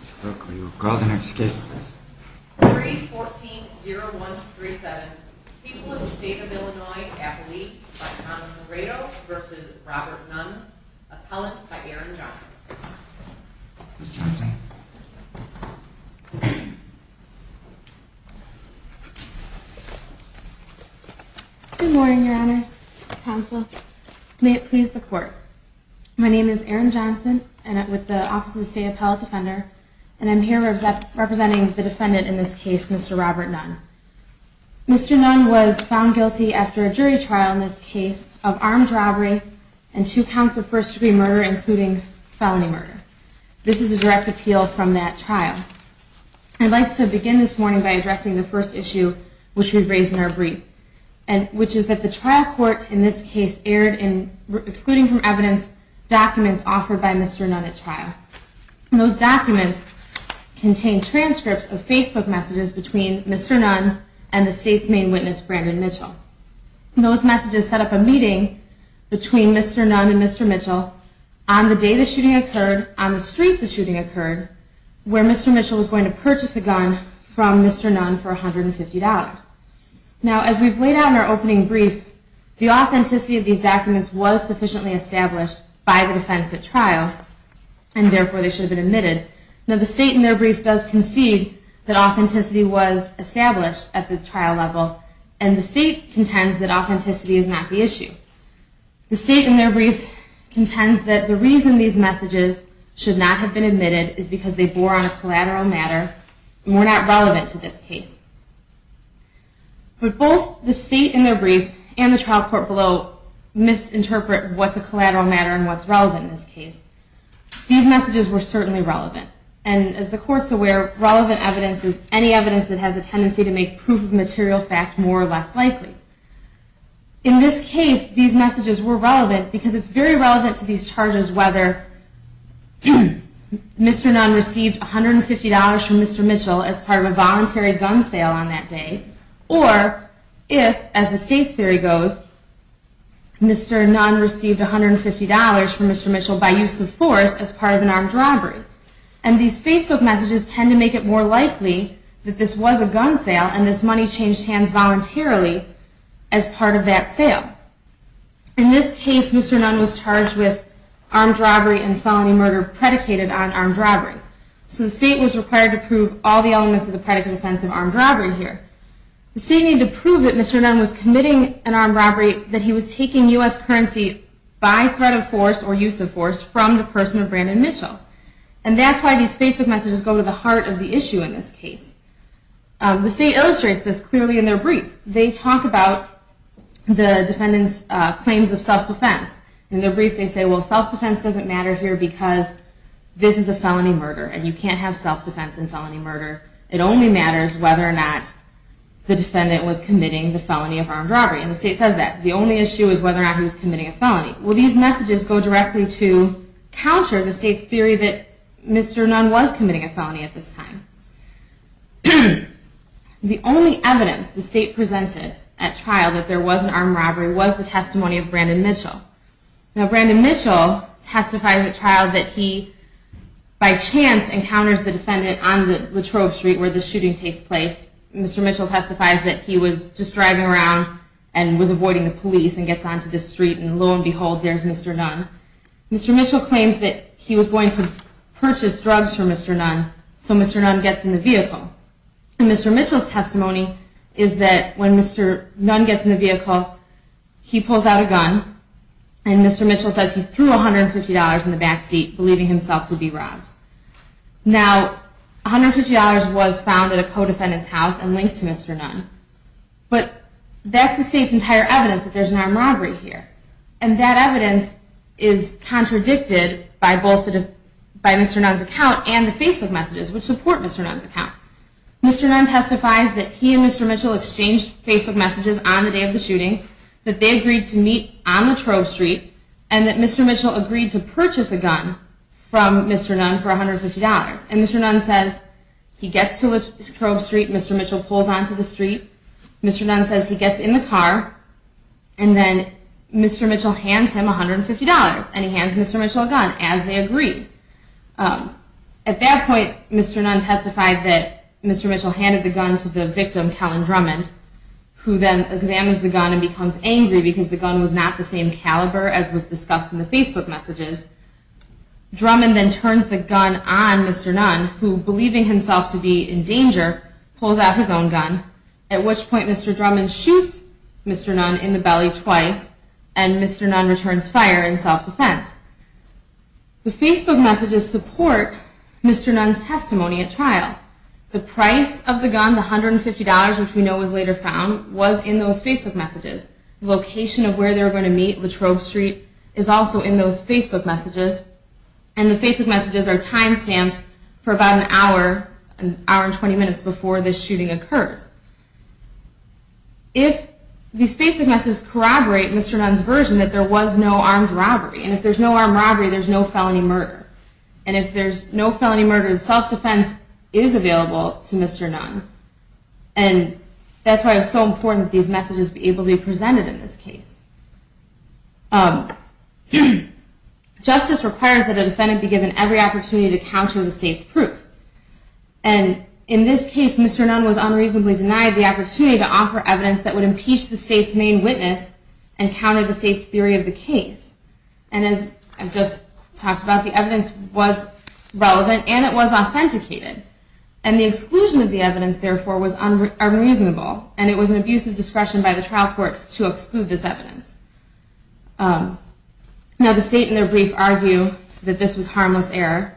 3-14-0137, People of the State of Illinois, Appellee by Thomas Laredo v. Robert Nunn, Appellant by Aaron Johnson Good morning, your honors, counsel. May it please the court. My name is Aaron Johnson, I'm with the Office of the State Appellate Defender, and I'm here representing the defendant in this case, Mr. Robert Nunn. Mr. Nunn was found guilty after a jury trial in this case of armed robbery and two counts of first degree murder, including felony murder. This is a direct appeal from that trial. I'd like to begin this morning by addressing the first issue which we raised in our brief, which is that the trial court in this case erred in excluding from evidence documents offered by Mr. Nunn at trial. Those documents contained transcripts of Facebook messages between Mr. Nunn and the state's main witness, Brandon Mitchell. Those messages set up a meeting between Mr. Nunn and Mr. Mitchell on the day the shooting occurred, on the street the shooting occurred, where Mr. Mitchell was going to purchase a gun from Mr. Nunn for $150. Now, as we've laid out in our opening brief, the authenticity of these documents was sufficiently established by the defense at trial, and therefore they should have been admitted. Now, the state in their brief does concede that authenticity was established at the trial level, and the state contends that authenticity is not the issue. The state in their brief contends that the reason these messages should not have been admitted is because they bore on a collateral matter and were not relevant to this case. But both the state in their brief and the trial court below misinterpret what's a collateral matter and what's relevant in this case. These messages were certainly relevant, and as the court's aware, relevant evidence is any evidence that has a tendency to make proof of material fact more or less likely. In this case, these messages were relevant because it's very relevant to these charges whether Mr. Nunn received $150 from Mr. Mitchell as part of a voluntary gun sale on that day, or if, as the state's theory goes, Mr. Nunn received $150 from Mr. Mitchell by use of force as part of an armed robbery. And these Facebook messages tend to make it more likely that this was a gun sale and this money changed hands voluntarily as part of that sale. In this case, Mr. Nunn was charged with armed robbery and felony murder predicated on armed robbery. So the state was required to prove all the elements of the predicate offense of armed robbery here. The state needed to prove that Mr. Nunn was committing an armed robbery, that he was taking U.S. currency by threat of force or use of force from the person of Brandon Mitchell. And that's why these Facebook messages go to the heart of the issue in this case. The state illustrates this clearly in their brief. They talk about the defendant's claims of self-defense. In their brief, they say, well, self-defense doesn't matter here because this is a felony murder and you can't have self-defense in felony murder. It only matters whether or not the defendant was committing the felony of armed robbery. And the state says that. The only issue is whether or not he was committing a felony. Well, these messages go directly to counter the state's theory that Mr. Nunn was committing a felony at this time. The only evidence the state presented at trial that there was an armed robbery was the testimony of Brandon Mitchell. Now, Brandon Mitchell testifies at trial that he, by chance, encounters the defendant on Latrobe Street where the shooting takes place. Mr. Mitchell testifies that he was just driving around and was avoiding the police and gets onto the street. And lo and behold, there's Mr. Nunn. Mr. Mitchell claims that he was going to purchase drugs for Mr. Nunn, so Mr. Nunn gets in the vehicle. And Mr. Mitchell's testimony is that when Mr. Nunn gets in the vehicle, he pulls out a gun and Mr. Mitchell says he threw $150 in the backseat, believing himself to be robbed. Now, $150 was found at a co-defendant's house and linked to Mr. Nunn. But that's the state's entire evidence that there's an armed robbery here. And that evidence is contradicted by both Mr. Nunn's account and the Facebook messages, which support Mr. Nunn's account. Mr. Nunn testifies that he and Mr. Mitchell exchanged Facebook messages on the day of the shooting, that they agreed to meet on Latrobe Street, and that Mr. Mitchell agreed to purchase a gun from Mr. Nunn for $150. And Mr. Nunn says he gets to Latrobe Street, Mr. Mitchell pulls onto the street, Mr. Nunn says he gets in the car, and then Mr. Mitchell hands him $150, and he hands Mr. Mitchell a gun, as they agreed. At that point, Mr. Nunn testified that Mr. Mitchell handed the gun to the victim, Kellen Drummond, who then examines the gun and becomes angry because the gun was not the same caliber as was discussed in the Facebook messages. Drummond then turns the gun on Mr. Nunn, who, believing himself to be in danger, pulls out his own gun, at which point Mr. Drummond shoots Mr. Nunn in the belly twice, and Mr. Nunn returns fire in self-defense. The Facebook messages support Mr. Nunn's testimony at trial. The price of the gun, the $150, which we know was later found, was in those Facebook messages. The location of where they were going to meet, Latrobe Street, is also in those Facebook messages, and the Facebook messages are time-stamped for about an hour, an hour and 20 minutes before this shooting occurs. If these Facebook messages corroborate Mr. Nunn's version that there was no armed robbery, and if there's no armed robbery, there's no felony murder, and if there's no felony murder, self-defense is available to Mr. Nunn. And that's why it's so important that these messages be able to be presented in this case. Justice requires that a defendant be given every opportunity to counter the state's proof. And in this case, Mr. Nunn was unreasonably denied the opportunity to offer evidence that would impeach the state's main witness and counter the state's theory of the case. And as I've just talked about, the evidence was relevant, and it was authenticated. And the exclusion of the evidence, therefore, was unreasonable, and it was an abuse of discretion by the trial court to exclude this evidence. Now, the state, in their brief, argued that this was harmless error,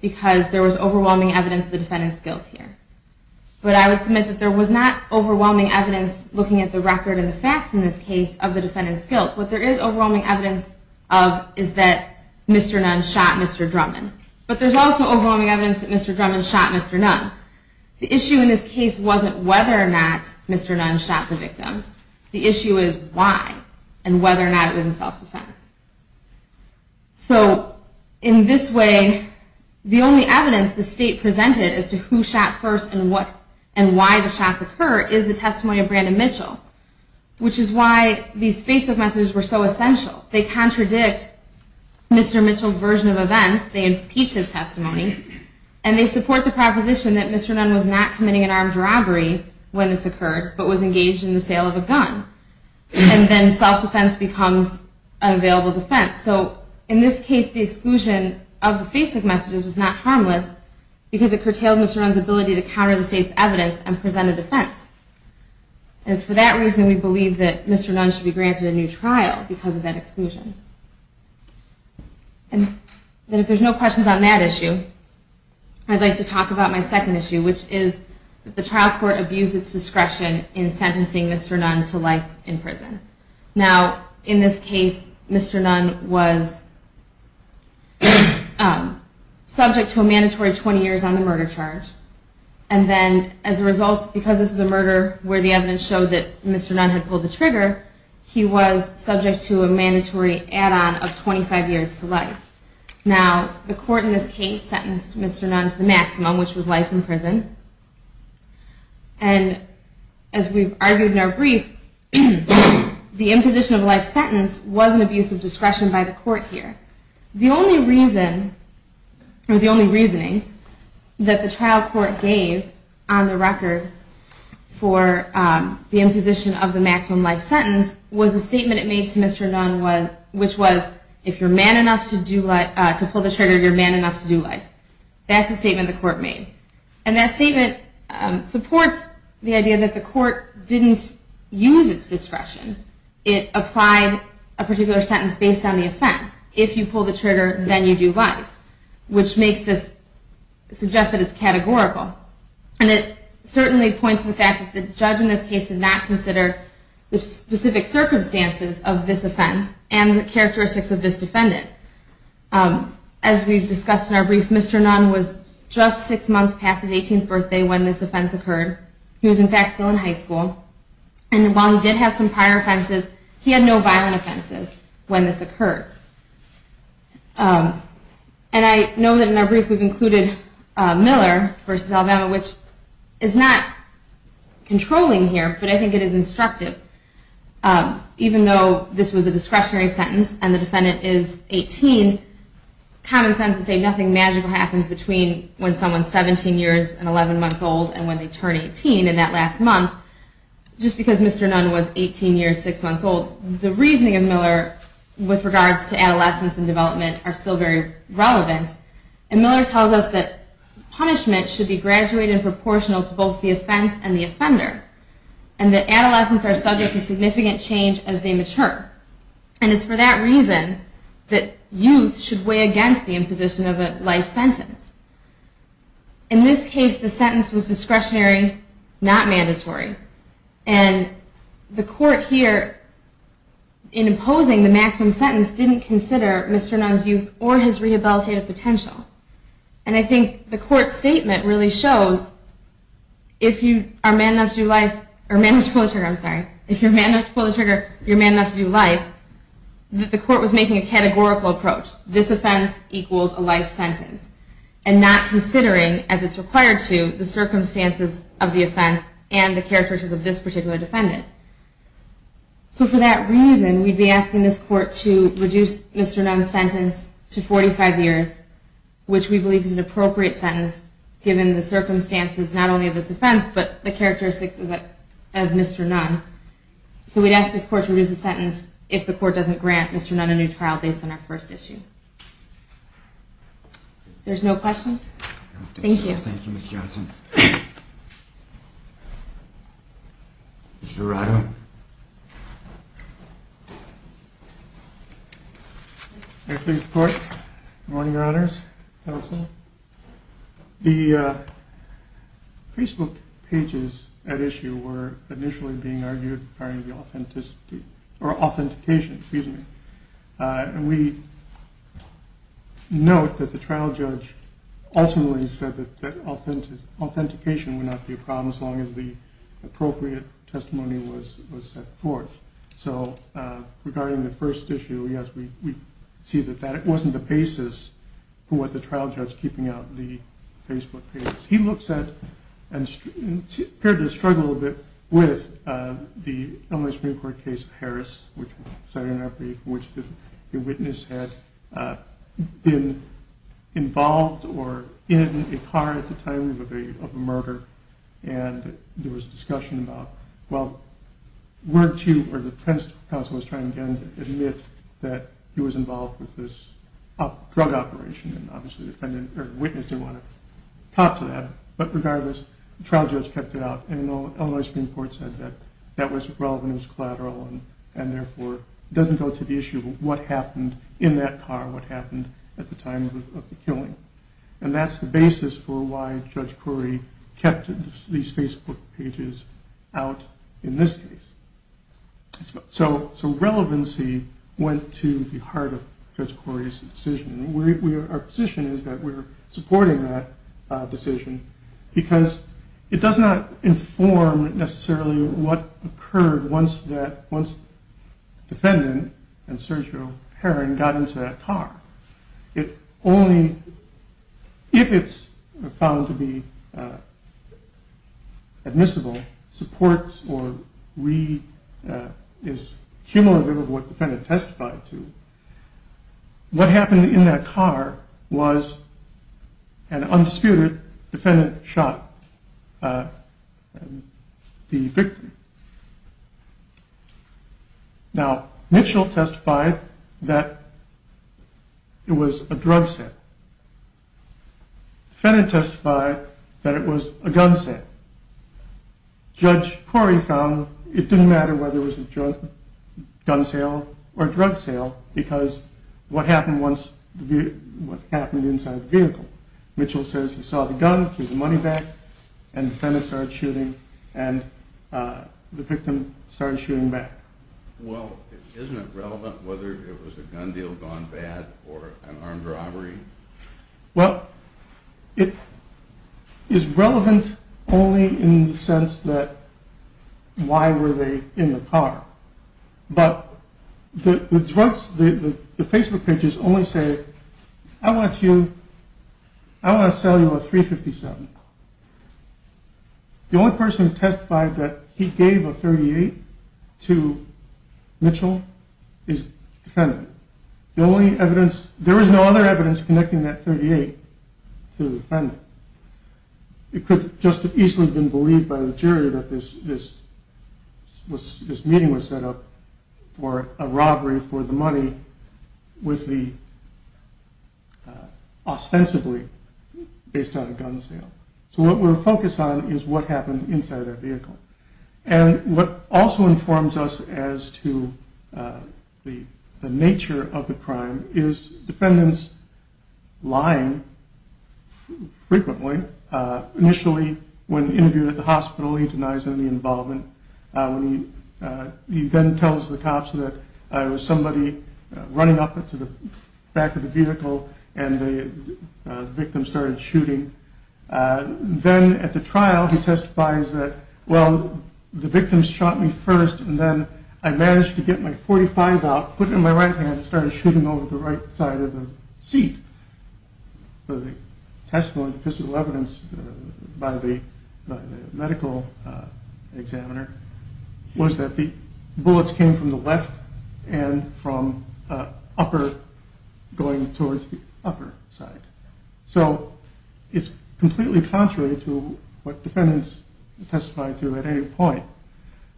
because there was overwhelming evidence of the defendant's guilt here. But I would submit that there was not overwhelming evidence, looking at the record and the facts in this case, of the defendant's guilt. What there is overwhelming evidence of is that Mr. Nunn shot Mr. Drummond. But there's also overwhelming evidence that Mr. Drummond shot Mr. Nunn. The issue in this case wasn't whether or not Mr. Nunn shot the victim. The issue is why, and whether or not it was a self-defense. So, in this way, the only evidence the state presented as to who shot first and why the shots occurred is the testimony of Brandon Mitchell, which is why these face-off messages were so essential. They contradict Mr. Mitchell's version of events. They impeach his testimony. And they support the proposition that Mr. Nunn was not committing an armed robbery when this occurred, but was engaged in the sale of a gun. And then self-defense becomes an available defense. So, in this case, the exclusion of the face-off messages was not harmless, because it curtailed Mr. Nunn's ability to counter the state's evidence and present a defense. And it's for that reason we believe that Mr. Nunn should be granted a new trial because of that exclusion. And if there's no questions on that issue, I'd like to talk about my second issue, which is that the trial court abused its discretion in sentencing Mr. Nunn to life in prison. Now, in this case, Mr. Nunn was subject to a mandatory 20 years on the murder charge. And then, as a result, because this is a murder where the evidence showed that Mr. Nunn had pulled the trigger, he was subject to a mandatory add-on of 25 years to life. Now, the court in this case sentenced Mr. Nunn to the maximum, which was life in prison. And, as we've argued in our brief, the imposition of a life sentence was an abuse of discretion by the court here. The only reason, or the only reasoning, that the trial court gave on the record for the imposition of the maximum life sentence was a statement it made to Mr. Nunn, which was, if you're man enough to pull the trigger, you're man enough to do life. That's the statement the court made. And that statement supports the idea that the court didn't use its discretion. It applied a particular sentence based on the offense. If you pull the trigger, then you do life, which makes this suggest that it's categorical. And it certainly points to the fact that the judge in this case did not consider the specific circumstances of this offense and the characteristics of this defendant. As we've discussed in our brief, Mr. Nunn was just six months past his 18th birthday when this offense occurred. He was, in fact, still in high school. And while he did have some prior offenses, he had no violent offenses when this occurred. And I know that in our brief we've included Miller v. Alabama, which is not controlling here, but I think it is instructive. Even though this was a discretionary sentence and the defendant is 18, common sense would say nothing magical happens between when someone's 17 years and 11 months old and when they turn 18 in that last month. Just because Mr. Nunn was 18 years, six months old, the reasoning of Miller with regards to adolescence and development are still very relevant. And Miller tells us that punishment should be graduated and proportional to both the offense and the offender. And that adolescents are subject to significant change as they mature. And it's for that reason that youth should weigh against the imposition of a life sentence. In this case, the sentence was discretionary, not mandatory. And the court here, in imposing the maximum sentence, didn't consider Mr. Nunn's youth or his rehabilitative potential. And I think the court's statement really shows, if you're a man enough to pull the trigger, you're a man enough to do life, that the court was making a categorical approach. This offense equals a life sentence. And not considering, as it's required to, the circumstances of the offense and the characteristics of this particular defendant. So for that reason, we'd be asking this court to reduce Mr. Nunn's sentence to 45 years, which we believe is an appropriate sentence, given the circumstances not only of this offense, but the characteristics of Mr. Nunn. So we'd ask this court to reduce the sentence if the court doesn't grant Mr. Nunn a new trial based on our first issue. There's no questions? Thank you. Thank you, Ms. Johnson. Mr. Arado. May it please the court. Good morning, Your Honors. Counsel. The Facebook pages at issue were initially being argued regarding the authenticity or authentication, excuse me. And we note that the trial judge ultimately said that authentication would not be a problem as long as the appropriate testimony was set forth. So regarding the first issue, yes, we see that that wasn't the basis for the trial judge keeping out the Facebook pages. He looks at and appeared to struggle a bit with the Illinois Supreme Court case of Harris, which was cited in our brief, in which the witness had been involved or in a car at the time of a murder. And there was discussion about, well, weren't you, or the defense counsel was trying again to admit that he was involved with this drug operation. And obviously the witness didn't want to talk to that. But regardless, the trial judge kept it out. And the Illinois Supreme Court said that that was relevant, it was collateral, and therefore doesn't go to the issue of what happened in that car, what happened at the time of the killing. And that's the basis for why Judge Corey kept these Facebook pages out in this case. So relevancy went to the heart of Judge Corey's decision. Our position is that we're supporting that decision because it does not inform necessarily what occurred once that, once the defendant and Sergio Herron got into that car. It only, if it's found to be admissible, supports or is cumulative of what the defendant testified to, what happened in that car was an undisputed defendant shot the victim. Now Mitchell testified that it was a drug sale. The defendant testified that it was a gun sale. Judge Corey found it didn't matter whether it was a gun sale or a drug sale because what happened once, what happened inside the vehicle. Mitchell says he saw the gun, threw the money back, and the defendant started shooting and the victim started shooting back. Well, isn't it relevant whether it was a gun deal gone bad or an armed robbery? Well, it is relevant only in the sense that why were they in the car? But the Facebook pages only say, I want to sell you a .357. The only person who testified that he gave a .38 to Mitchell is the defendant. The only evidence, there is no other evidence connecting that .38 to the defendant. It could just as easily have been believed by the jury that this meeting was set up for a robbery for the money with the, ostensibly based on a gun sale. So what we're focused on is what happened inside their vehicle. And what also informs us as to the nature of the crime is defendants lying frequently. Initially, when interviewed at the hospital, he denies any involvement. He then tells the cops that it was somebody running up to the back of the vehicle and the victim started shooting. Then at the trial, he testifies that, well, the victim shot me first and then I managed to get my .45 out, put it in my right hand and started shooting over the right side of the seat. The testimony, the physical evidence by the medical examiner was that the bullets came from the left and from upper, going towards the upper side. So it's completely contrary to what defendants testify to at any point.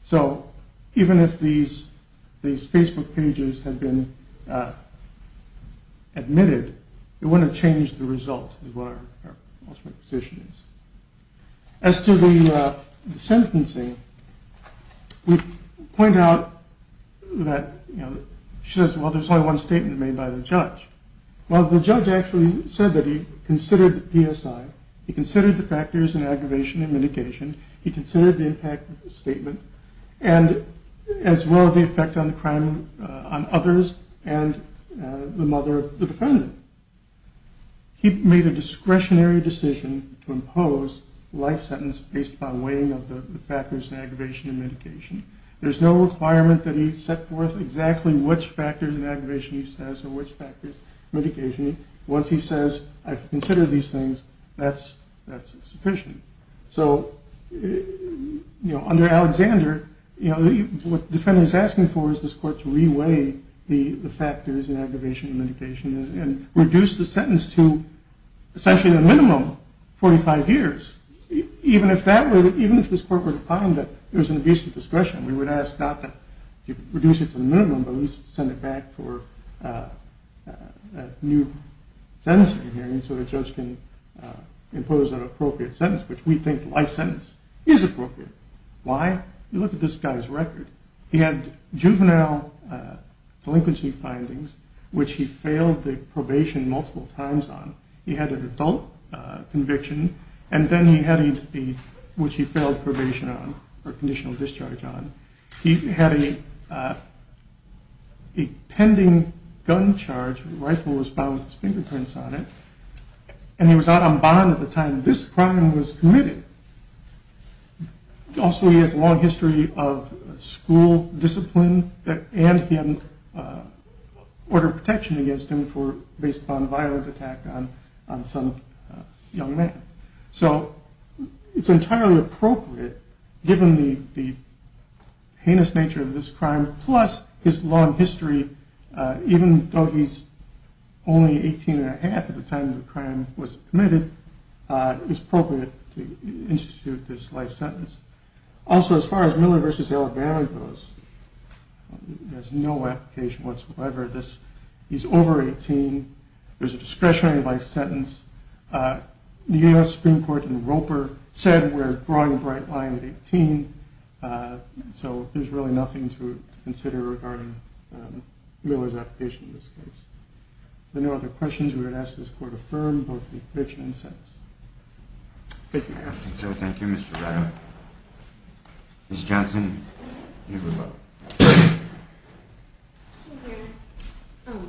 So even if these Facebook pages had been admitted, it wouldn't have changed the result is what our ultimate position is. As to the sentencing, we point out that, you know, she says, well, there's only one statement made by the judge. Well, the judge actually said that he considered the PSI. He considered the factors in aggravation and mitigation. He considered the impact statement as well as the effect on crime on others and the mother of the defendant. He made a discretionary decision to impose life sentence based on weighing of the factors in aggravation and mitigation. There's no requirement that he set forth exactly which factors in aggravation he says or which factors in mitigation. Once he says, I've considered these things, that's sufficient. So, you know, under Alexander, you know, what the defendant is asking for is this court to re-weigh the factors in aggravation and mitigation and reduce the sentence to essentially the minimum, 45 years. Even if this court were to find that there's an abuse of discretion, we would ask not to reduce it to the minimum, but at least send it back for a new sentencing hearing so the judge can impose an appropriate sentence, which we think life sentence is appropriate. Why? You look at this guy's record. He had juvenile delinquency findings, which he failed the probation multiple times on. He had an adult conviction, which he failed probation on or conditional discharge on. He had a pending gun charge. The rifle was found with his fingerprints on it. And he was out on bond at the time this crime was committed. Also, he has a long history of school discipline. And he had order of protection against him based upon violent attack on some young man. So it's entirely appropriate, given the heinous nature of this crime, plus his long history, even though he's only 18 and a half at the time the crime was committed, it was appropriate to institute this life sentence. Also, as far as Miller v. Alabama goes, there's no application whatsoever. He's over 18. There's a discretionary life sentence. The U.S. Supreme Court in Roper said we're drawing a bright line at 18. So there's really nothing to consider regarding Miller's application in this case. If there are no other questions, we would ask that this Court affirm both the conviction and the sentence. Thank you, Your Honor. Thank you, Mr. Rado. Ms. Johnson, you have a vote. Thank you, Your Honor.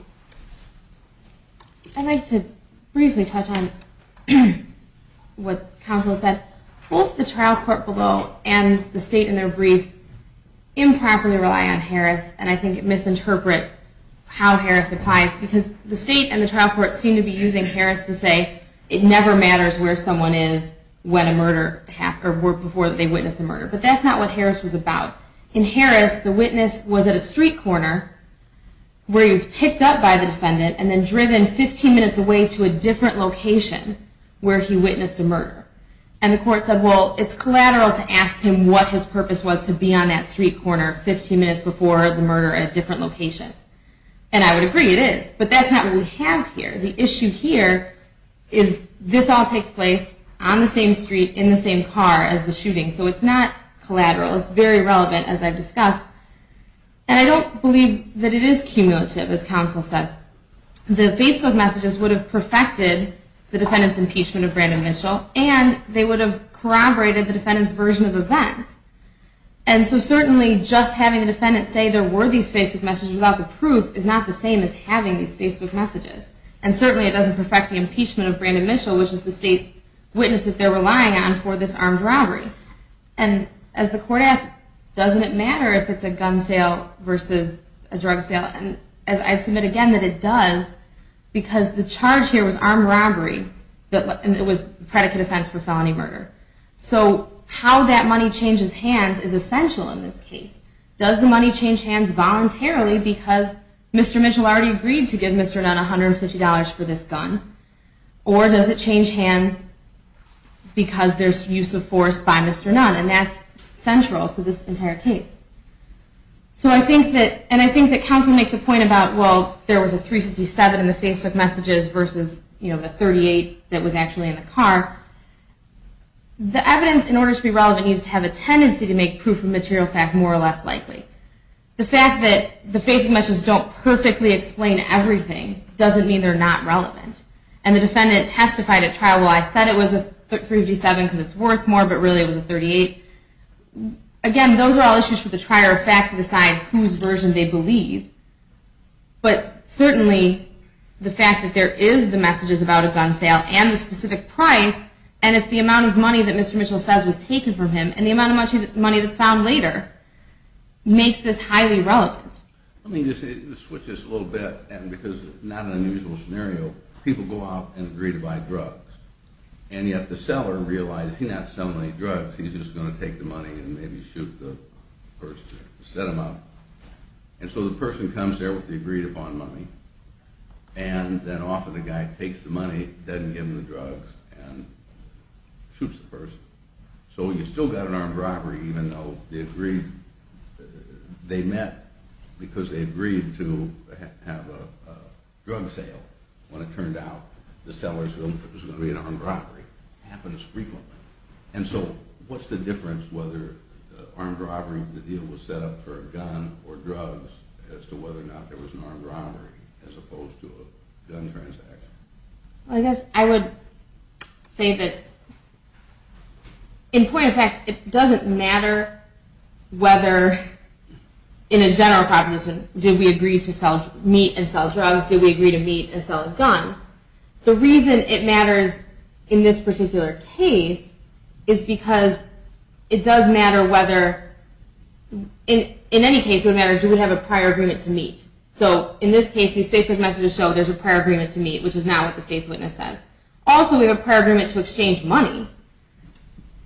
I'd like to briefly touch on what counsel said. Both the trial court below and the state in their brief improperly rely on Harris, and I think it misinterprets how Harris applies, because the state and the trial court seem to be using Harris to say it never matters where someone is before they witness a murder. But that's not what Harris was about. In Harris, the witness was at a street corner where he was picked up by the defendant and then driven 15 minutes away to a different location where he witnessed a murder. And the court said, well, it's collateral to ask him what his purpose was to be on that street corner 15 minutes before the murder at a different location. And I would agree it is, but that's not what we have here. The issue here is this all takes place on the same street in the same car as the shooting, so it's not collateral. It's very relevant, as I've discussed. And I don't believe that it is cumulative, as counsel says. The Facebook messages would have perfected the defendant's impeachment of Brandon Mitchell, and they would have corroborated the defendant's version of events. And so certainly just having the defendant say there were these Facebook messages without the proof is not the same as having these Facebook messages. And certainly it doesn't perfect the impeachment of Brandon Mitchell, which is the state's witness that they're relying on for this armed robbery. And as the court asked, doesn't it matter if it's a gun sale versus a drug sale? And I submit again that it does, because the charge here was armed robbery, and it was predicate offense for felony murder. So how that money changes hands is essential in this case. Does the money change hands voluntarily because Mr. Mitchell already agreed to give Mr. Dunn $150 for this gun? Or does it change hands because there's use of force by Mr. Dunn? And that's central to this entire case. So I think that counsel makes a point about, well, there was a $357 in the Facebook messages versus the $38 that was actually in the car. The evidence, in order to be relevant, needs to have a tendency to make proof of material fact more or less likely. The fact that the Facebook messages don't perfectly explain everything doesn't mean they're not relevant. And the defendant testified at trial, well, I said it was a $357 because it's worth more, but really it was a $38. Again, those are all issues for the trier of fact to decide whose version they believe. But certainly the fact that there is the messages about a gun sale and the specific price, and it's the amount of money that Mr. Mitchell says was taken from him, and the amount of money that's found later, makes this highly relevant. Let me just switch this a little bit, because it's not an unusual scenario. People go out and agree to buy drugs, and yet the seller realizes he's not selling any drugs, he's just going to take the money and maybe shoot the person who set him up. And so the person comes there with the agreed-upon money, and then often the guy takes the money, so you still got an armed robbery even though they met because they agreed to have a drug sale. When it turned out the seller was going to be an armed robbery. It happens frequently. And so what's the difference whether armed robbery, the deal was set up for a gun or drugs, as to whether or not there was an armed robbery as opposed to a gun transaction? I guess I would say that, in point of fact, it doesn't matter whether, in a general proposition, did we agree to meet and sell drugs, did we agree to meet and sell a gun. The reason it matters in this particular case is because it does matter whether, in any case it would matter, do we have a prior agreement to meet. So in this case, these Facebook messages show there's a prior agreement to meet, which is not what the state's witness says. Also, we have a prior agreement to exchange money.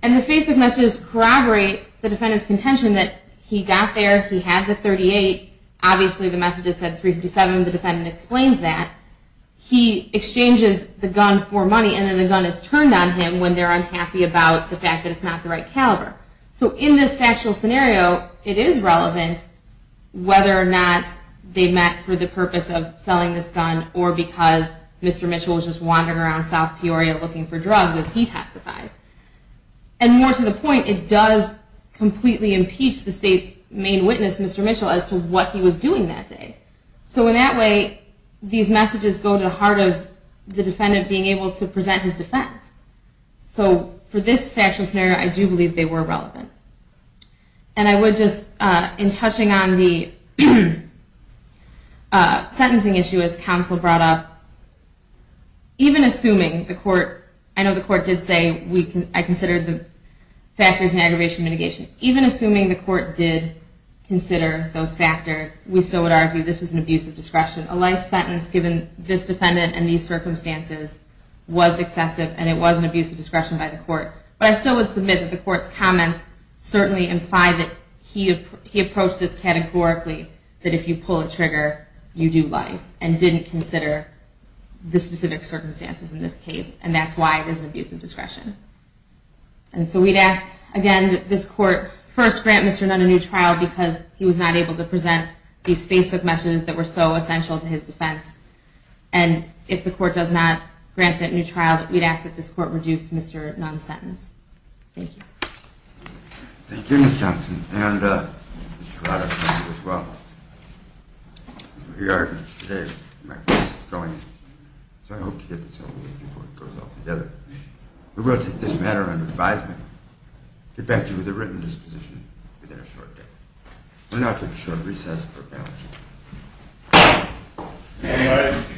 And the Facebook messages corroborate the defendant's contention that he got there, he had the .38, obviously the messages said .357, the defendant explains that, he exchanges the gun for money, and then the gun is turned on him when they're unhappy about the fact that it's not the right caliber. So in this factual scenario, it is relevant whether or not they met for the purpose of selling this gun, or because Mr. Mitchell was just wandering around South Peoria looking for drugs as he testifies. And more to the point, it does completely impeach the state's main witness, Mr. Mitchell, as to what he was doing that day. So in that way, these messages go to the heart of the defendant being able to present his defense. So for this factual scenario, I do believe they were relevant. And I would just, in touching on the sentencing issue, as counsel brought up, even assuming the court, I know the court did say, I considered the factors in aggravation mitigation, even assuming the court did consider those factors, we still would argue this was an abuse of discretion. A life sentence given this defendant and these circumstances was excessive, and it was an abuse of discretion by the court. But I still would submit that the court's comments certainly imply that he approached this categorically, that if you pull a trigger, you do life, and didn't consider the specific circumstances in this case. And that's why it was an abuse of discretion. And so we'd ask, again, that this court first grant Mr. Nunn a new trial because he was not able to present these specific messages that were so essential to his defense. And if the court does not grant that new trial, that we'd ask that this court reduce Mr. Nunn's sentence. Thank you. Thank you, Ms. Johnson. And Mr. Corrado, thank you as well. We are, today, going, so I hope to get this over with before it goes all together. We will take this matter under advisement, get back to you with a written disposition within a short time. We'll now take a short recess for panel discussion. Thank you.